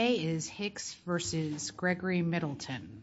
A is Hicks v. Gregory Middleton.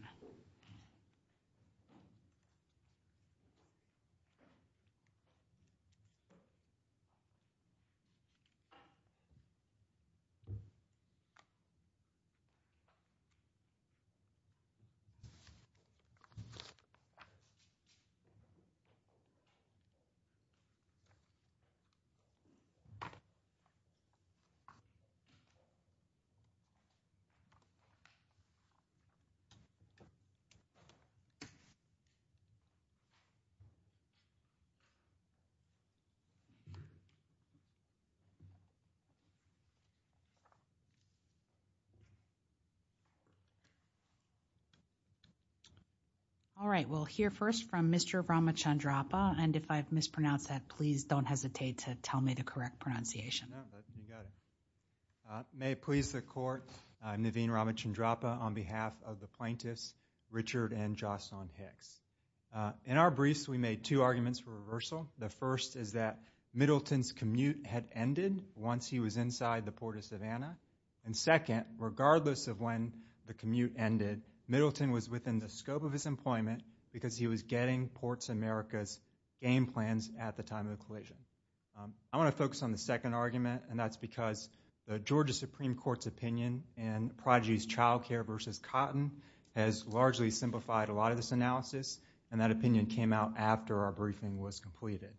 Alright, we'll hear first from Mr. Ramachandrappa, and if I've mispronounced that, please don't hesitate to tell me the correct pronunciation. May it please the court, I'm Naveen Ramachandrappa on behalf of the plaintiffs, Richard and Jocelyn Hicks. In our briefs, we made two arguments for reversal. The first is that Middleton's commute had ended once he was inside the Port of Savannah, and second, regardless of when the commute ended, Middleton was within the scope of his employment because he was getting Ports America's game plans at the time of the collision. I want to focus on the second argument, and that's because the Georgia Supreme Court's opinion in Prodigy's Child Care v. Cotton has largely simplified a lot of this analysis, and that opinion came out after our briefing was completed.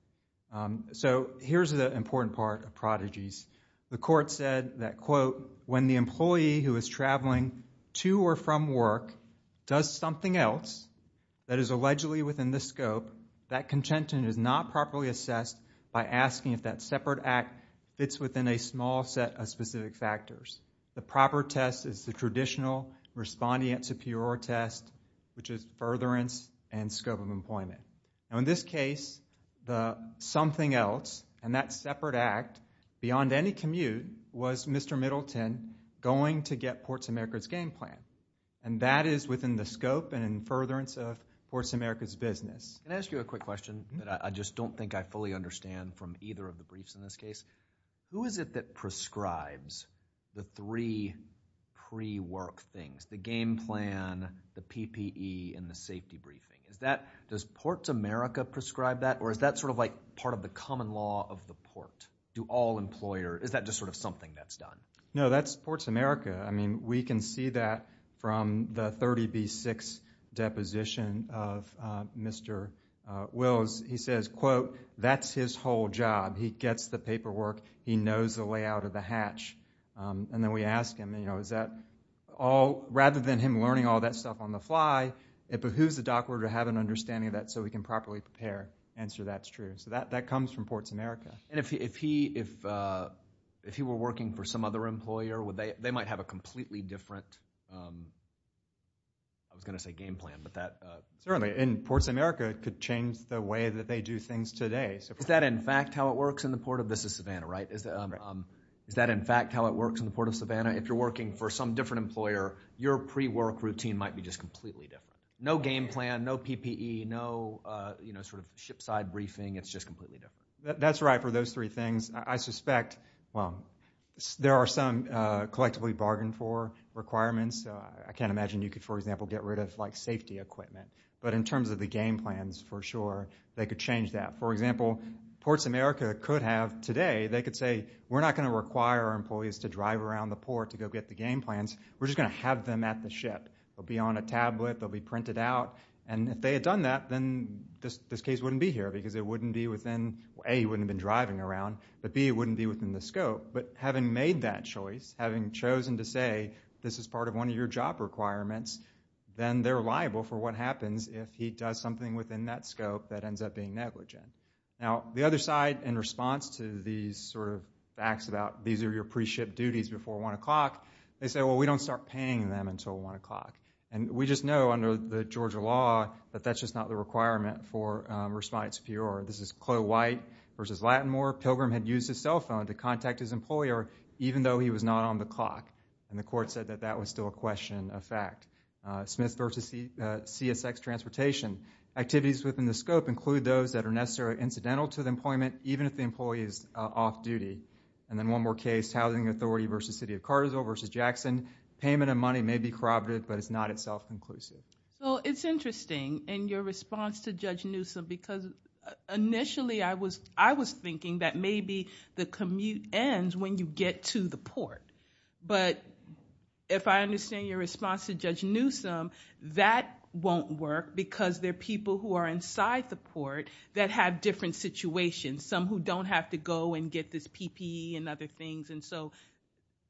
So here's the important part of Prodigy's. The court said that, quote, when the employee who is traveling to or from work does something else that is allegedly within the scope, that contention is not properly assessed by asking if that separate act fits within a small set of specific factors. The proper test is the traditional respondent superior test, which is furtherance and scope of employment. Now in this case, the something else and that separate act beyond any commute was Mr. Middleton going to get Ports America's game plan, and that is within the scope and furtherance of Ports America's business. Can I ask you a quick question that I just don't think I fully understand from either of the briefs in this case? Who is it that prescribes the three pre-work things, the game plan, the PPE, and the safety briefing? Is that, does Ports America prescribe that, or is that sort of like part of the common law of the port? Do all employers, is that just sort of something that's done? No, that's Ports America. I mean, we can see that from the 30B6 deposition of Mr. Wills. He says, quote, that's his whole job. He gets the paperwork. He knows the layout of the hatch. And then we ask him, you know, is that all, rather than him learning all that stuff on the fly, it behooves the doctor to have an understanding of that so we can properly prepare. Answer, that's true. So that comes from Ports America. And if he were working for some other employer, would they, they might have a completely different, I was going to say game plan, but that. Certainly. And Ports America could change the way that they do things today. Is that in fact how it works in the port of, this is Savannah, right? Is that in fact how it works in the port of Savannah? If you're working for some different employer, your pre-work routine might be just completely different. No game plan, no PPE, no, you know, sort of ship side briefing. It's just completely different. That's right. For those three things, I suspect, well, there are some collectively bargained for requirements. I can't imagine you could, for example, get rid of like safety equipment. But in terms of the game plans, for sure, they could change that. For example, Ports America could have today, they could say, we're not going to require our employees to drive around the port to go get the game plans, we're just going to have them at the ship. They'll be on a tablet, they'll be printed out. And if they had done that, then this case wouldn't be here because it wouldn't be within, A, he wouldn't have been driving around, but B, it wouldn't be within the scope. But having made that choice, having chosen to say, this is part of one of your job requirements, then they're liable for what happens if he does something within that scope that ends up being negligent. Now the other side, in response to these sort of facts about these are your pre-ship duties before 1 o'clock, they say, well, we don't start paying them until 1 o'clock. And we just know, under the Georgia law, that that's just not the requirement for respite superior. This is Cloe White versus Lattimore, Pilgrim had used his cell phone to contact his employer even though he was not on the clock, and the court said that that was still a question of fact. Smith versus CSX Transportation, activities within the scope include those that are necessarily incidental to the employment, even if the employee is off-duty. And then one more case, Housing Authority versus City of Cartersville versus Jackson, payment of money may be corroborative, but it's not itself inclusive. Well, it's interesting, and your response to Judge Newsom, because initially I was thinking that maybe the commute ends when you get to the port, but if I understand your response to Judge Newsom, that won't work because there are people who are inside the port that have different situations, some who don't have to go and get this PPE and other things. And so,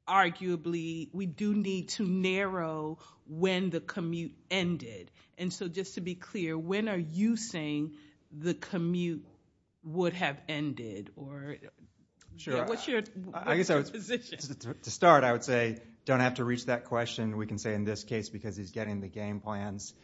arguably, we do need to narrow when the commute ended. And so just to be clear, when are you saying the commute would have ended, or what's your position? Sure. To start, I would say, don't have to reach that question. We can say in this case because he's getting the game plans,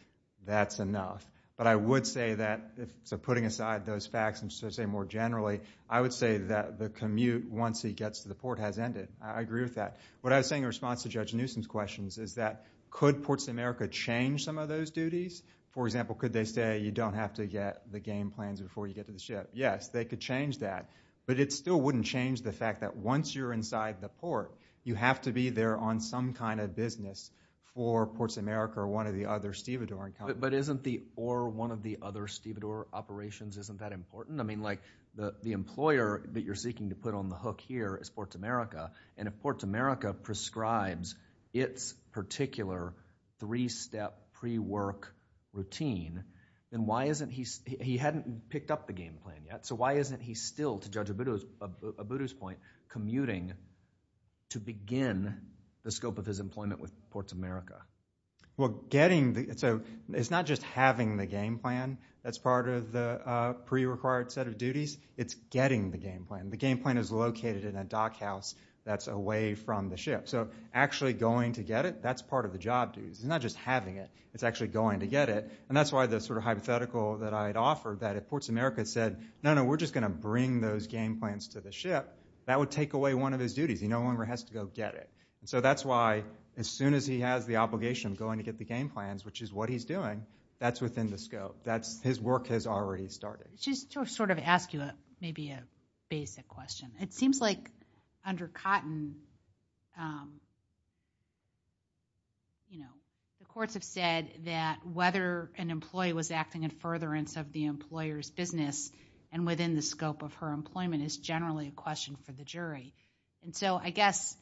that's enough. But I would say that, so putting aside those facts, I'm just going to say more generally, I would say that the commute, once he gets to the port, has ended. I agree with that. What I was saying in response to Judge Newsom's questions is that, could Ports of America change some of those duties? For example, could they say, you don't have to get the game plans before you get to the ship? Yes, they could change that. But it still wouldn't change the fact that once you're inside the port, you have to be there on some kind of business for Ports of America or one of the other Stevedore. But isn't the, or one of the other Stevedore operations, isn't that important? I mean, like, the employer that you're seeking to put on the hook here is Ports of America, and if Ports of America prescribes its particular three-step pre-work routine, then why isn't he, he hadn't picked up the game plan yet, so why isn't he still, to Judge Abudu's point, commuting to begin the scope of his employment with Ports of America? Well, getting the, so it's not just having the game plan that's part of the pre-required set of duties, it's getting the game plan. The game plan is located in a dock house that's away from the ship. So actually going to get it, that's part of the job duties. It's not just having it, it's actually going to get it. And that's why the sort of hypothetical that I had offered, that if Ports of America said, no, no, we're just going to bring those game plans to the ship, that would take away one of his duties. He no longer has to go get it. So that's why, as soon as he has the obligation of going to get the game plans, which is what he's doing, that's within the scope, that's, his work has already started. Just to sort of ask you a, maybe a basic question. It seems like under Cotton, you know, the courts have said that whether an employee was acting in furtherance of the employer's business and within the scope of her employment is generally a question for the jury. And so I guess,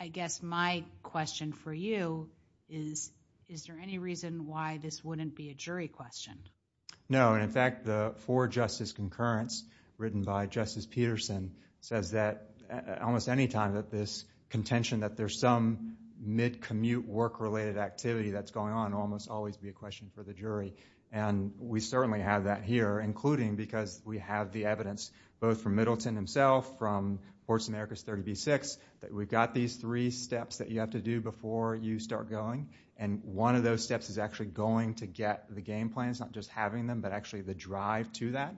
I guess my question for you is, is there any reason why this wouldn't be a jury question? No. And in fact, the four justice concurrence written by Justice Peterson says that almost any time that this contention that there's some mid commute work related activity that's going on almost always be a question for the jury. And we certainly have that here, including because we have the evidence both from Middleton himself from Courts of America's 30B-6, that we've got these three steps that you have to do before you start going. And one of those steps is actually going to get the game plans, not just having them, but actually the drive to that.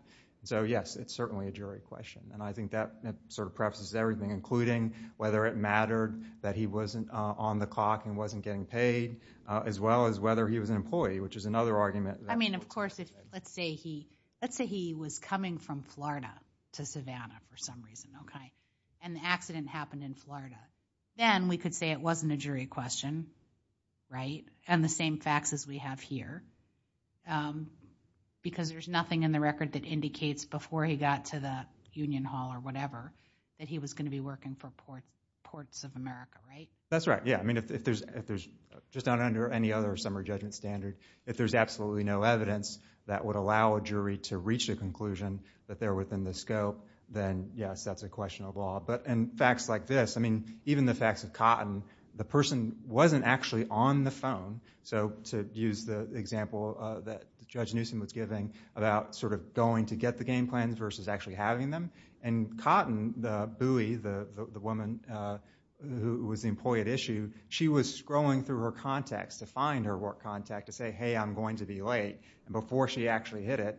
So yes, it's certainly a jury question. And I think that sort of prefaces everything, including whether it mattered that he wasn't on the clock and wasn't getting paid, as well as whether he was an employee, which is another argument. I mean, of course, let's say he was coming from Florida to Savannah for some reason. And the accident happened in Florida. Then we could say it wasn't a jury question, right? And the same facts as we have here, because there's nothing in the record that indicates before he got to the Union Hall or whatever, that he was going to be working for Ports of America, right? That's right. Yeah. I mean, if there's just not under any other summary judgment standard, if there's absolutely no evidence that would allow a jury to reach a conclusion that they're within the scope, then yes, that's a question of law. But in facts like this, I mean, even the facts of Cotton, the person wasn't actually on the phone. So to use the example that Judge Newsom was giving about sort of going to get the game plans versus actually having them. And Cotton, the buoy, the woman who was the employee at issue, she was scrolling through her contacts to find her work contact to say, hey, I'm going to be late. And before she actually hit it,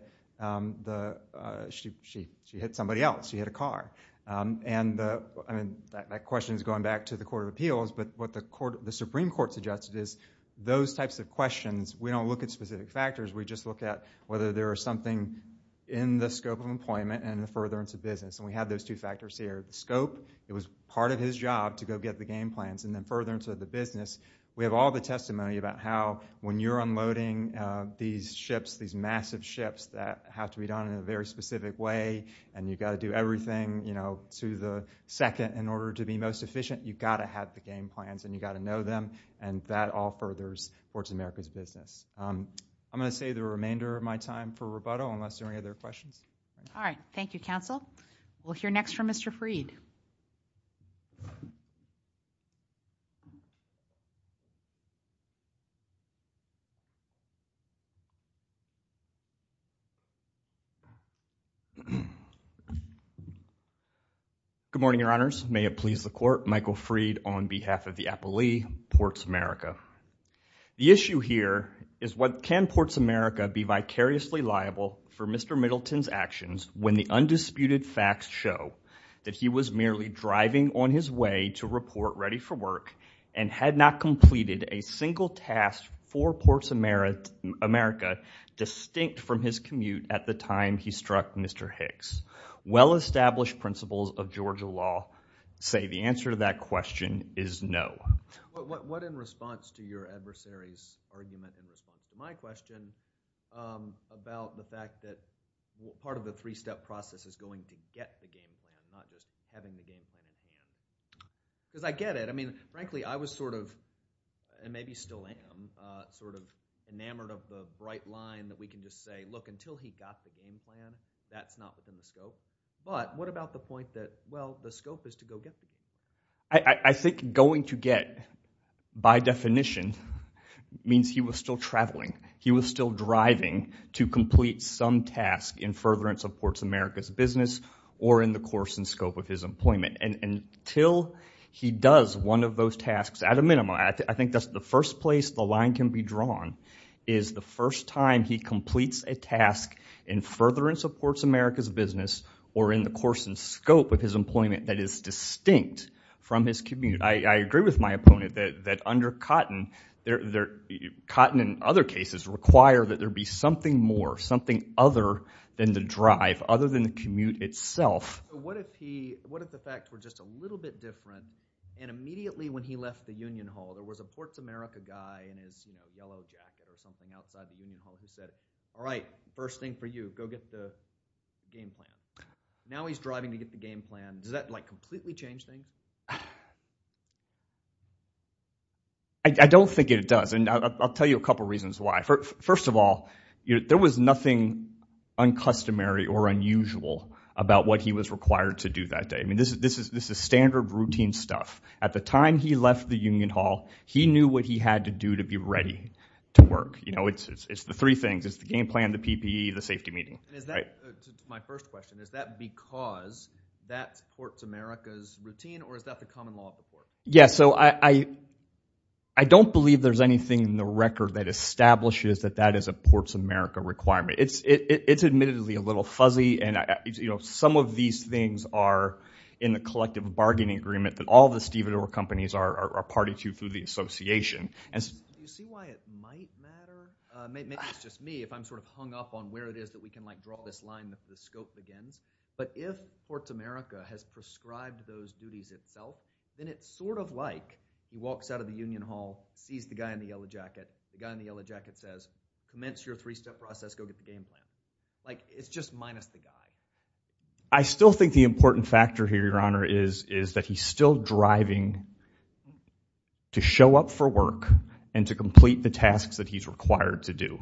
she hit somebody else. She hit a car. And I mean, that question is going back to the Court of Appeals, but what the Supreme Court suggested is those types of questions, we don't look at specific factors. We just look at whether there is something in the scope of employment and the furtherance of business. And we have those two factors here. The scope, it was part of his job to go get the game plans, and then furtherance of the business. We have all the testimony about how when you're unloading these ships, these massive ships that have to be done in a very specific way, and you've got to do everything, you know, to the second in order to be most efficient, you've got to have the game plans, and you've got to know them. And that all furthers Forged in America's business. I'm going to save the remainder of my time for rebuttal, unless there are any other questions. All right. Thank you, counsel. We'll hear next from Mr. Freed. Good morning, your honors. May it please the court. Michael Freed on behalf of the appellee, Ports America. The issue here is what can Ports America be vicariously liable for Mr. Middleton's actions when the undisputed facts show that he was merely driving on his way to report ready for work, and had not completed a single task for Ports America distinct from his commute at the time he struck Mr. Hicks? Well-established principles of Georgia law say the answer to that question is no. What in response to your adversary's argument in response to my question, about the fact that part of the three-step process is going to get the game plan, not just having the game plan. Because I get it. I mean, frankly, I was sort of, and maybe still am, sort of enamored of the bright line that we can just say, look, until he got the game plan, that's not within the scope. But what about the point that, well, the scope is to go get the game plan? I think going to get, by definition, means he was still traveling. He was still driving to complete some task in furtherance of Ports America's business or in the course and scope of his employment. And until he does one of those tasks, at a minimum, I think that's the first place the line can be drawn, is the first time he completes a task in furtherance of Ports America's business or in the course and scope of his employment that is distinct from his commute. I agree with my opponent that under Cotton, Cotton and other cases require that there be something more, something other than the drive, other than the commute itself. What if the facts were just a little bit different and immediately when he left the Union Hall, there was a Ports America guy in his yellow jacket or something outside the Union Hall who said, all right, first thing for you, go get the game plan. Now he's driving to get the game plan. Does that completely change things? I don't think it does. And I'll tell you a couple of reasons why. First of all, there was nothing uncustomary or unusual about what he was required to do that day. I mean, this is standard routine stuff. At the time he left the Union Hall, he knew what he had to do to be ready to work. You know, it's the three things. It's the game plan, the PPE, the safety meeting. My first question, is that because that's Ports America's routine or is that the common law of the port? Yeah, so I don't believe there's anything in the record that establishes that that is a Ports America requirement. It's admittedly a little fuzzy and some of these things are in the collective bargaining agreement that all the stevedore companies are party to through the association. Do you see why it might matter? Maybe it's just me, if I'm sort of hung up on where it is that we can draw this line that the scope begins. But if Ports America has prescribed those duties itself, then it's sort of like he walks out of the Union Hall, sees the guy in the yellow jacket. The guy in the yellow jacket says, commence your three-step process, go get the game plan. Like, it's just minus the guy. I still think the important factor here, Your Honor, is that he's still driving to show up for work and to complete the tasks that he's required to do.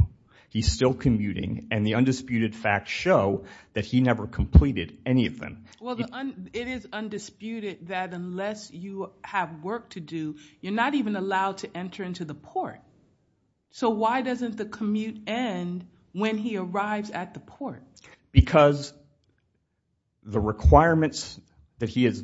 He's still commuting and the undisputed facts show that he never completed any of them. Well, it is undisputed that unless you have work to do, you're not even allowed to enter into the port. So why doesn't the commute end when he arrives at the port? Because the requirements that he is,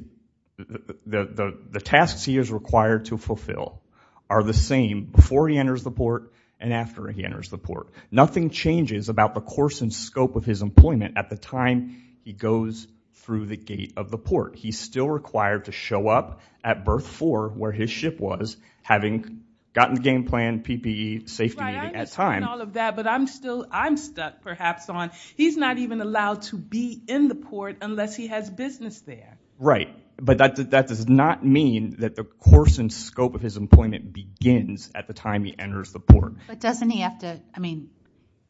the tasks he is required to fulfill are the same before he enters the port and after he enters the port. Nothing changes about the course and scope of his employment at the time he goes through the gate of the port. He's still required to show up at berth four, where his ship was, having gotten the game plan, PPE, safety meeting, and time. But I'm still, I'm stuck perhaps on, he's not even allowed to be in the port unless he has business there. Right. But that does not mean that the course and scope of his employment begins at the time he enters the port. But doesn't he have to, I mean,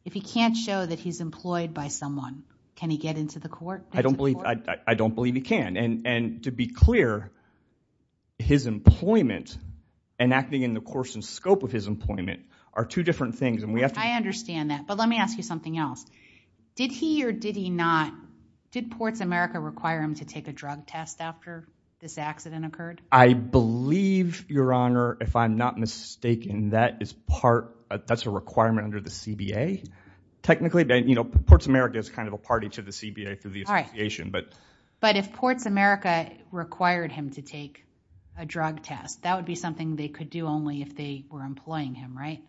if he can't show that he's employed by someone, can he get into the court? I don't believe, I don't believe he can. And to be clear, his employment and acting in the course and scope of his employment are two different things. I understand that. But let me ask you something else. Did he or did he not, did Ports America require him to take a drug test after this accident occurred? I believe, Your Honor, if I'm not mistaken, that is part, that's a requirement under the CBA. Technically, you know, Ports America is kind of a party to the CBA through the association. But if Ports America required him to take a drug test, that would be something they could do only if they were employing him, right?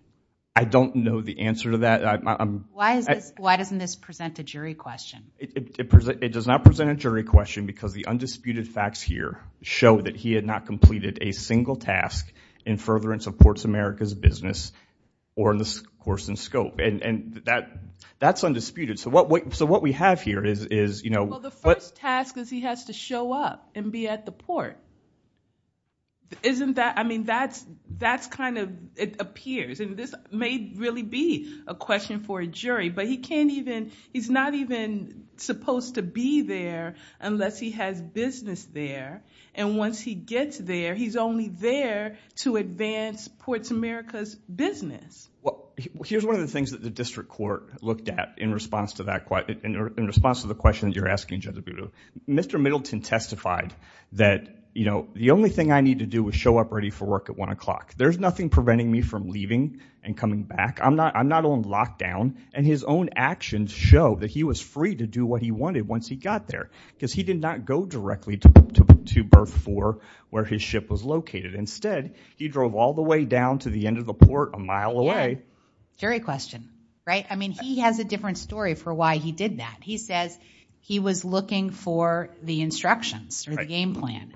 I don't know the answer to that. Why doesn't this present a jury question? It does not present a jury question because the undisputed facts here show that he had not completed a single task in furtherance of Ports America's business or in the course and scope. And that's undisputed. So what we have here is, you know, Well, the first task is he has to show up and be at the port. Isn't that, I mean, that's, that's kind of, it appears, and this may really be a question for a jury, but he can't even, he's not even supposed to be there unless he has business there. And once he gets there, he's only there to advance Ports America's business. Well, here's one of the things that the district court looked at in response to that, in response to the question that you're asking Judge Abudo. Mr. Middleton testified that, you know, the only thing I need to do is show up ready for work at one o'clock. There's nothing preventing me from leaving and coming back. I'm not, I'm not on lockdown. And his own actions show that he was free to do what he wanted once he got there, because he did not go directly to berth four where his ship was located. Instead, he drove all the way down to the end of the port a mile away. Jury question, right? I mean, he has a different story for why he did that. He says he was looking for the instructions or the game plan.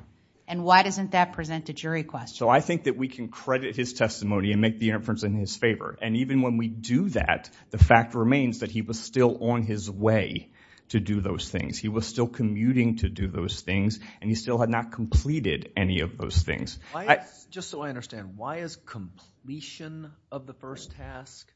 And why doesn't that present a jury question? So I think that we can credit his testimony and make the inference in his favor. And even when we do that, the fact remains that he was still on his way to do those things. He was still commuting to do those things, and he still had not completed any of those things. Just so I understand, why is completion of the first task,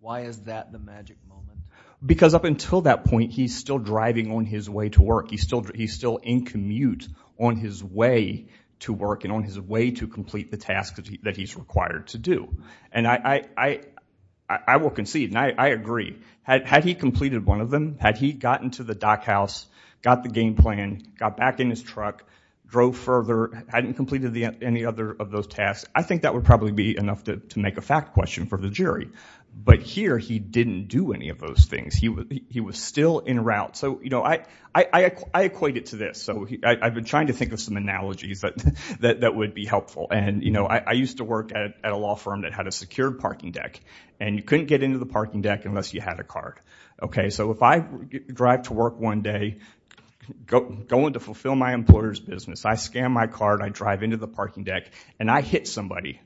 why is that the magic moment? Because up until that point, he's still driving on his way to work. He's still in commute on his way to work, and on his way to complete the task that he's required to do. And I will concede, and I agree. Had he completed one of them, had he gotten to the dock house, got the game plan, got back in his truck, drove further, hadn't completed any other of those tasks, I think that would probably be enough to make a fact question for the jury. But here, he didn't do any of those things. He was still in route. I equate it to this. I've been trying to think of some analogies that would be helpful. I used to work at a law firm that had a secured parking deck. And you couldn't get into the parking deck unless you had a card. So if I drive to work one day, going to fulfill my employer's business, I scan my card, I drive into the parking deck, and I hit somebody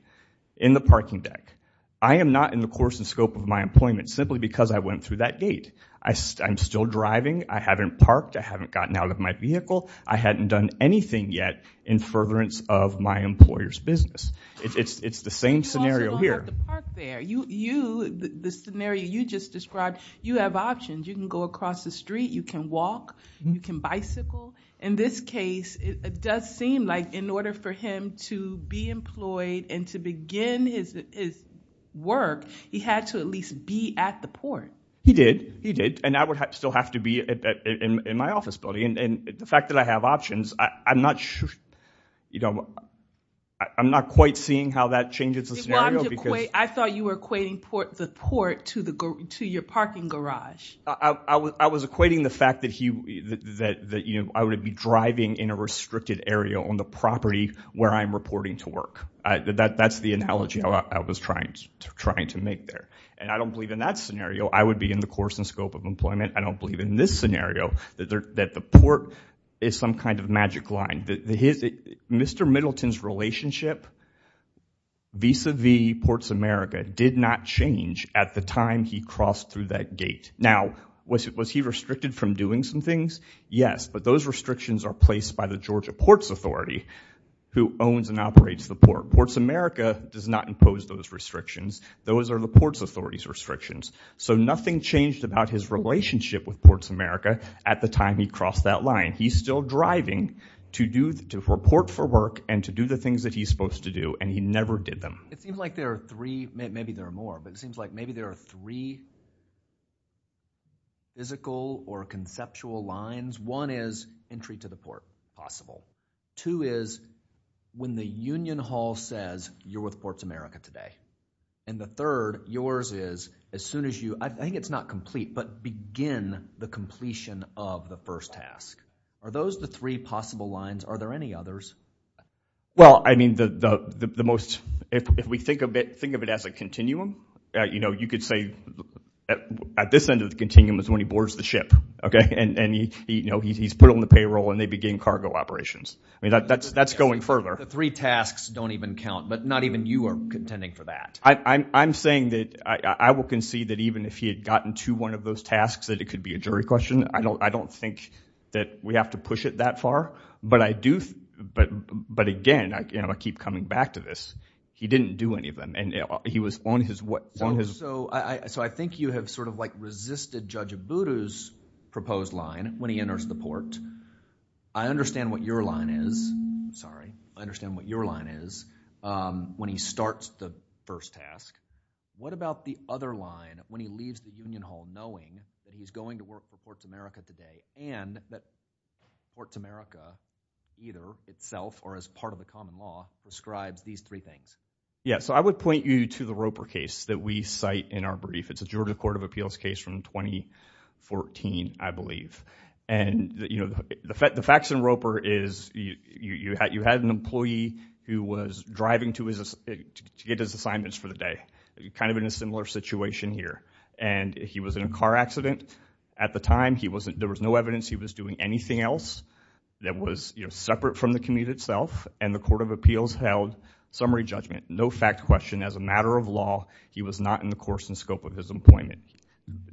in the parking deck. I am not in the course and scope of my employment simply because I went through that gate. I'm still driving. I haven't parked. I haven't gotten out of my vehicle. I hadn't done anything yet in furtherance of my employer's business. It's the same scenario here. You, the scenario you just described, you have options. You can go across the street. You can walk. You can bicycle. In this case, it does seem like in order for him to be employed, and to begin his work, he had to at least be at the port. He did. He did. And I would still have to be in my office building. And the fact that I have options, I'm not quite seeing how that changes the scenario. I thought you were equating the port to your parking garage. I was equating the fact that I would be driving in a restricted area on the property where I'm reporting to work. That's the analogy I was trying to make there. And I don't believe in that scenario. I would be in the course and scope of employment. I don't believe in this scenario, that the port is some kind of magic line. Mr. Middleton's relationship vis-a-vis Ports America did not change at the time he crossed through that gate. Yes, but those restrictions are placed by the Georgia Ports Authority who owns and operates the port. Ports America does not impose those restrictions. Those are the Ports Authority's restrictions. So nothing changed about his relationship with Ports America at the time he crossed that line. He's still driving to report for work and to do the things that he's supposed to do. And he never did them. It seems like there are three, maybe there are more, but it seems like maybe there are three physical or conceptual lines. One is entry to the port possible. Two is when the union hall says you're with Ports America today. And the third, yours is as soon as you, I think it's not complete, but begin the completion of the first task. Are those the three possible lines? Are there any others? Well, I mean, the most, if we think of it, think of it as a continuum. You know, you could say at this end of the continuum is when he boards the ship. And, you know, he's put on the payroll and they begin cargo operations. I mean, that's going further. The three tasks don't even count, but not even you are contending for that. I'm saying that I will concede that even if he had gotten to one of those tasks, that it could be a jury question. I don't think that we have to push it that far. But I do, but again, I keep coming back to this. He didn't do any of them and he was on his way. So I think you have sort of like resisted Judge Abudu's proposed line when he enters the port. I understand what your line is. Sorry, I understand what your line is when he starts the first task. What about the other line when he leaves the union hall knowing that he's going to work for Ports America today and that Ports America either itself or as part of the common law describes these three things? Yeah, so I would point you to the Roper case that we cite in our brief. It's a Georgia Court of Appeals case from 2014, I believe. And, you know, the facts in Roper is you had an employee who was driving to get his assignments for the day. Kind of in a similar situation here. And he was in a car accident at the time. There was no evidence he was doing anything else that was separate from the commute itself. And the Court of Appeals held summary judgment. No fact question. As a matter of law, he was not in the course and scope of his employment.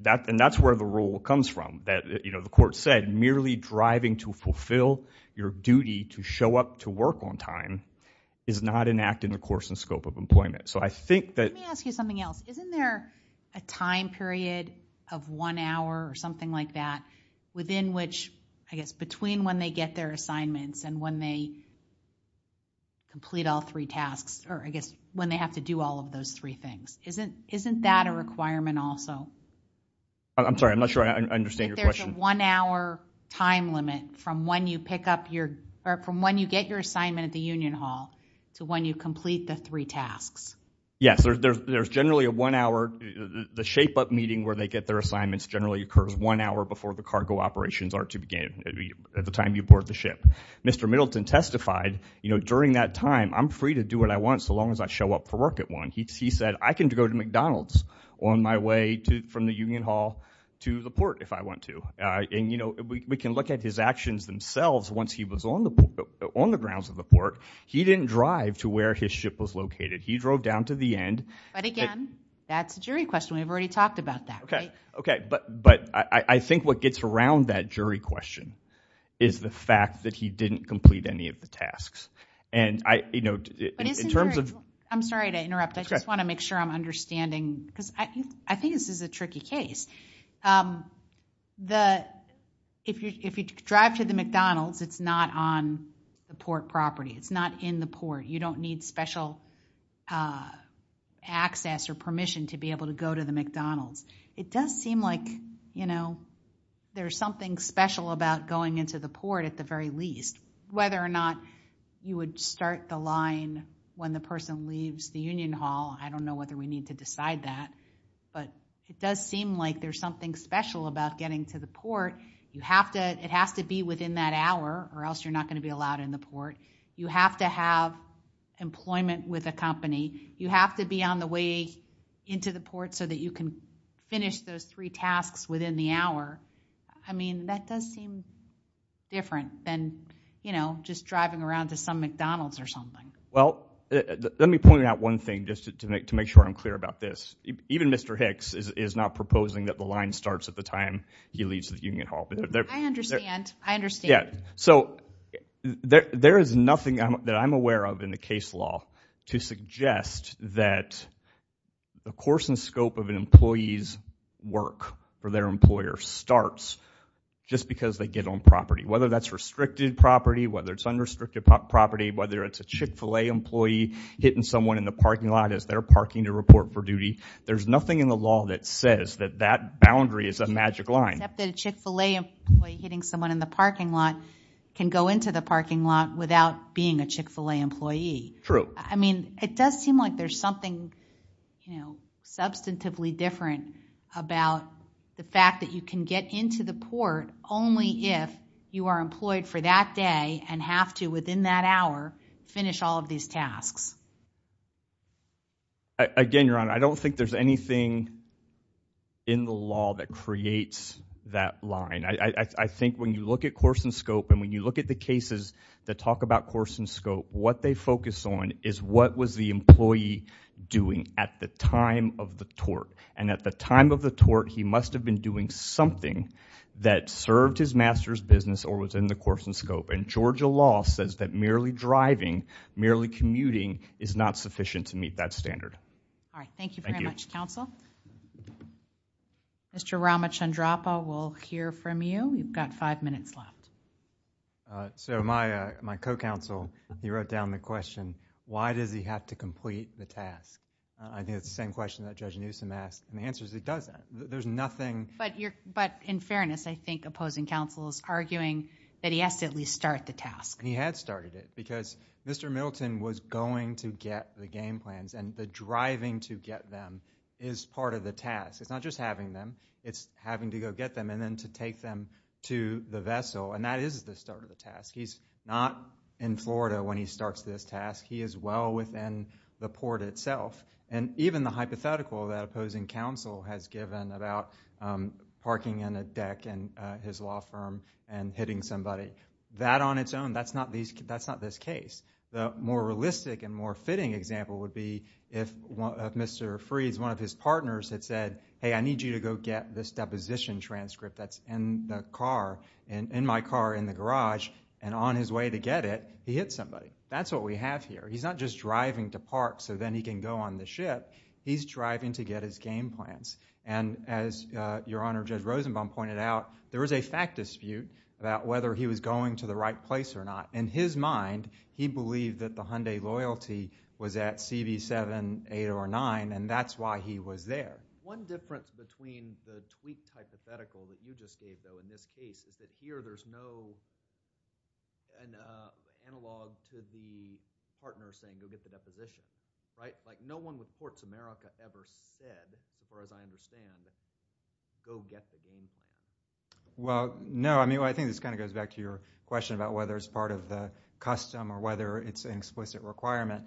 And that's where the rule comes from. The court said merely driving to fulfill your duty to show up to work on time is not an act in the course and scope of employment. Let me ask you something else. Isn't there a time period of one hour or something like that within which I guess between when they get their assignments and when they complete all three tasks or I guess when they have to do all of those three things? Isn't that a requirement also? I'm sorry, I'm not sure I understand your question. If there's a one hour time limit from when you pick up your or from when you get your assignment at the Union Hall to when you complete the three tasks. Yes, there's generally a one hour. The shape up meeting where they get their assignments generally occurs one hour before the cargo operations are to begin at the time you board the ship. Mr. Middleton testified during that time, I'm free to do what I want so long as I show up for work at one. He said, I can go to McDonald's on my way from the Union Hall to the port if I want to. We can look at his actions themselves once he was on the grounds of the port. He didn't drive to where his ship was located. He drove down to the end. But again, that's a jury question. We've already talked about that, right? But I think what gets around that jury question is the fact that he didn't complete any of the tasks. I'm sorry to interrupt. I just want to make sure I'm understanding because I think this is a tricky case. If you drive to the McDonald's, it's not on the port property. It's not in the port. You don't need special access or permission to be able to go to the McDonald's. It does seem like there's something special about going into the port at the very least. Whether or not you would start the line when the person leaves the Union Hall, I don't know whether we need to decide that. But it does seem like there's something special about getting to the port. It has to be within that hour or else you're not going to be allowed in the port. You have to have employment with a company. You have to be on the way into the port so that you can finish those three tasks within the hour. I mean, that does seem different than just driving around to some McDonald's or something. Well, let me point out one thing just to make sure I'm clear about this. Even Mr. Hicks is not proposing that the line starts at the time he leaves the Union Hall. I understand. I understand. So, there is nothing that I'm aware of in the case law to suggest that the course and scope of an employee's work for their employer starts just because they get on property. Whether that's restricted property, whether it's unrestricted property, whether it's a Chick-fil-A employee hitting someone in the parking lot as they're parking to report for duty. There's nothing in the law that says that that boundary is a magic line. Except that a Chick-fil-A employee hitting someone in the parking lot can go into the parking lot without being a Chick-fil-A employee. True. I mean, it does seem like there's something substantively different about the fact that you can get into the port only if you are employed for that day and have to, within that hour, finish all of these tasks. Again, Your Honor, I don't think there's anything in the law that creates that line. I think when you look at course and scope and when you look at the cases that talk about course and scope, what they focus on is what was the employee doing at the time of the tort. And at the time of the tort, he must have been doing something that served his master's business or was in the course and scope. And Georgia law says that merely driving, merely commuting, is not sufficient to meet that standard. All right. Thank you very much, counsel. Mr. Ramachandrappa, we'll hear from you. You've got five minutes left. So my co-counsel, he wrote down the question, why does he have to complete the task? I think it's the same question that Judge Newsom asked, and the answer is it doesn't. There's nothing... But in fairness, I think opposing counsel is arguing that he has to at least start the task. He had started it because Mr. Milton was going to get the game plans, and the driving to get them is part of the task. It's not just having them. It's having to go get them and then to take them to the vessel. And that is the start of the task. He's not in Florida when he starts this task. He is well within the port itself. And even the hypothetical that opposing counsel has given about parking in a deck in his law firm and hitting somebody, that on its own, that's not this case. The more realistic and more fitting example would be if Mr. Freed's, one of his partners had said, hey, I need you to go get this deposition transcript that's in the car, in my car in the garage, and on his way to get it, he hits somebody. That's what we have here. He's not just driving to park so then he can go on the ship. He's driving to get his game plans. And as Your Honor, Judge Rosenbaum pointed out, there is a fact dispute about whether he was going to the right place or not. In his mind, he believed that the Hyundai loyalty was at CV7, 8, or 9, and that's why he was there. One difference between the tweaked hypothetical that you just gave, though, in this case, is that here there's no analog to the partner saying, go get the deposition. No one with Courts America ever said, as far as I understand, go get the game plan. Well, no. I think this kind of goes back to your question about whether it's part of the custom or whether it's an explicit requirement.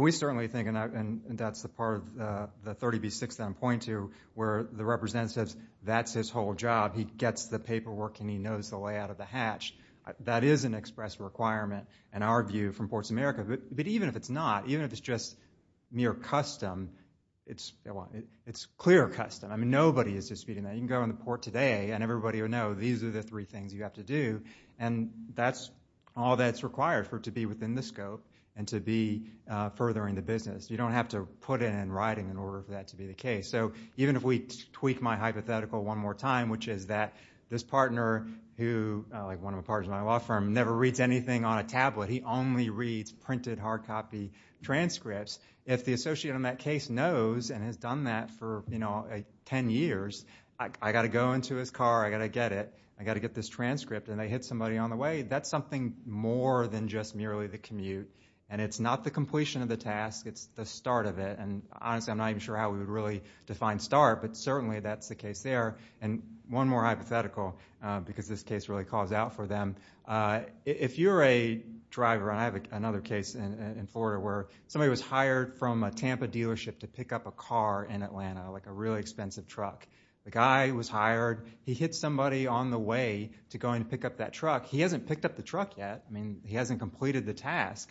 We certainly think, and that's the part of the 30B6 that I'm pointing to, where the representative says that's his whole job. He gets the paperwork and he knows the layout of the hatch. That is an express requirement, in our view, from Courts America. But even if it's not, even if it's just mere custom, it's clear custom. Nobody is disputing that. You can go on the port today and everybody will know these are the three things you have to do. And that's all that's required for it to be within the scope and to be furthering the business. You don't have to put it in writing in order for that to be the case. Even if we tweak my hypothetical one more time, which is that this partner, one of the partners of my law firm, never reads anything on a tablet. He only reads printed, hard copy transcripts. If the associate on that case knows and has done that for 10 years, I've got to go into his car, I've got to get it, I've got to get this transcript, and they hit somebody on the way, that's something more than just merely the commute. And it's not the completion of the task, it's the start of it. And honestly, I'm not even sure how we would really define start, but certainly that's the case there. And one more hypothetical, because this case really calls out for them. If you're a driver, and I have another case in Florida, where somebody was hired from a Tampa dealership to pick up a car in Atlanta, like a really expensive truck. The guy was hired, he hit somebody on the way to go and pick up that truck. He hasn't picked up the truck yet, he hasn't completed the task.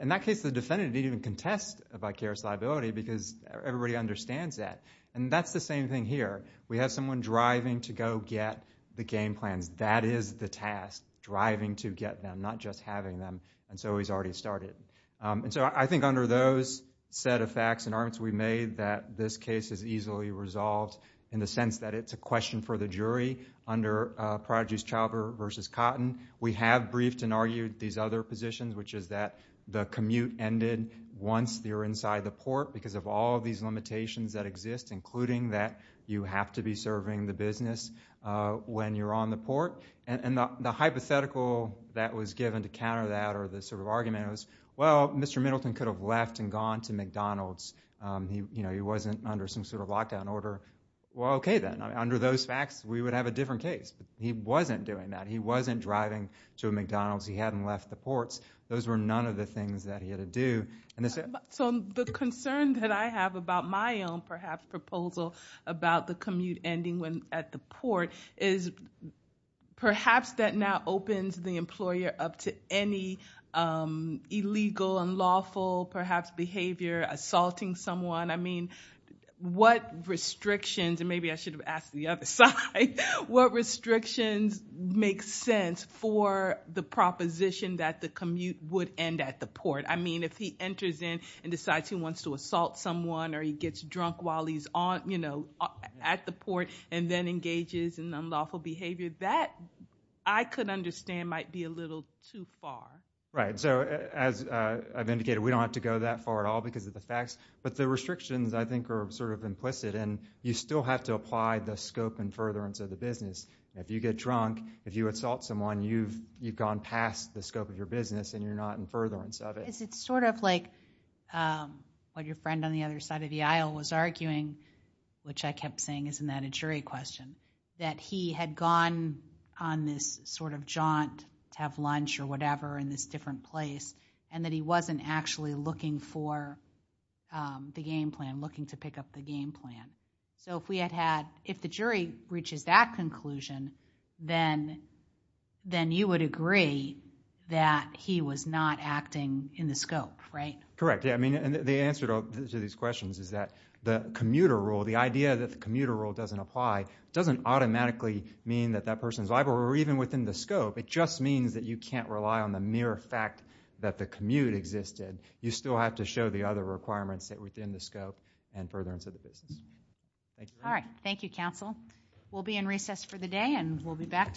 In that case, the defendant didn't even contest a vicarious liability, because everybody understands that. And that's the same thing here. We have someone driving to go get the game plans. That is the task, driving to get them, not just having them. And so he's already started. And so I think under those set of facts and arguments we made, that this case is easily resolved, in the sense that it's a question for the jury, under Prodigy's Chauber v. Cotton. We have briefed and argued these other positions, which is that the commute ended once you're inside the port, because of all these limitations that exist, including that you have to be serving the business when you're on the port. And the hypothetical that was given to counter that, or the sort of argument, was, well, Mr. Middleton could have left and gone to McDonald's. He wasn't under some sort of lockdown order. Well, okay then. Under those facts, we would have a different case. But he wasn't doing that. He wasn't driving to a McDonald's. He hadn't left the ports. Those were none of the things that he had to do. So the concern that I have about my own, perhaps, proposal about the commute ending at the port, is perhaps that now opens the employer up to any illegal and lawful, perhaps, behavior, assaulting someone. I mean, what restrictions, and maybe I should have asked the other side, what restrictions make sense for the proposition that the commute would end at the port? I mean, if he enters in and decides he wants to assault someone, or he gets drunk while he's at the port, and then engages in unlawful behavior, that, I could understand, might be a little too far. Right. So as I've indicated, we don't have to go that far at all because of the facts. But the restrictions, I think, are sort of implicit. And you still have to apply the scope and furtherance of the business. If you get drunk, if you assault someone, you've gone past the scope of your business, and you're not in furtherance of it. It's sort of like what your friend on the other side of the aisle was arguing, which I kept saying, isn't that a jury question? That he had gone on this sort of jaunt to have lunch or whatever in this different place, and that he wasn't actually looking for the game plan, so if we had had, if the jury reaches that conclusion, then you would agree that he was not acting in the scope, right? Correct. Yeah, I mean, the answer to these questions is that the commuter rule, the idea that the commuter rule doesn't apply, doesn't automatically mean that that person's liable, or even within the scope. It just means that you can't rely on the mere fact that the commute existed. You still have to show the other requirements within the scope and furtherance of the business. All right. Thank you, counsel. We'll be in recess for the day, and we'll be back tomorrow.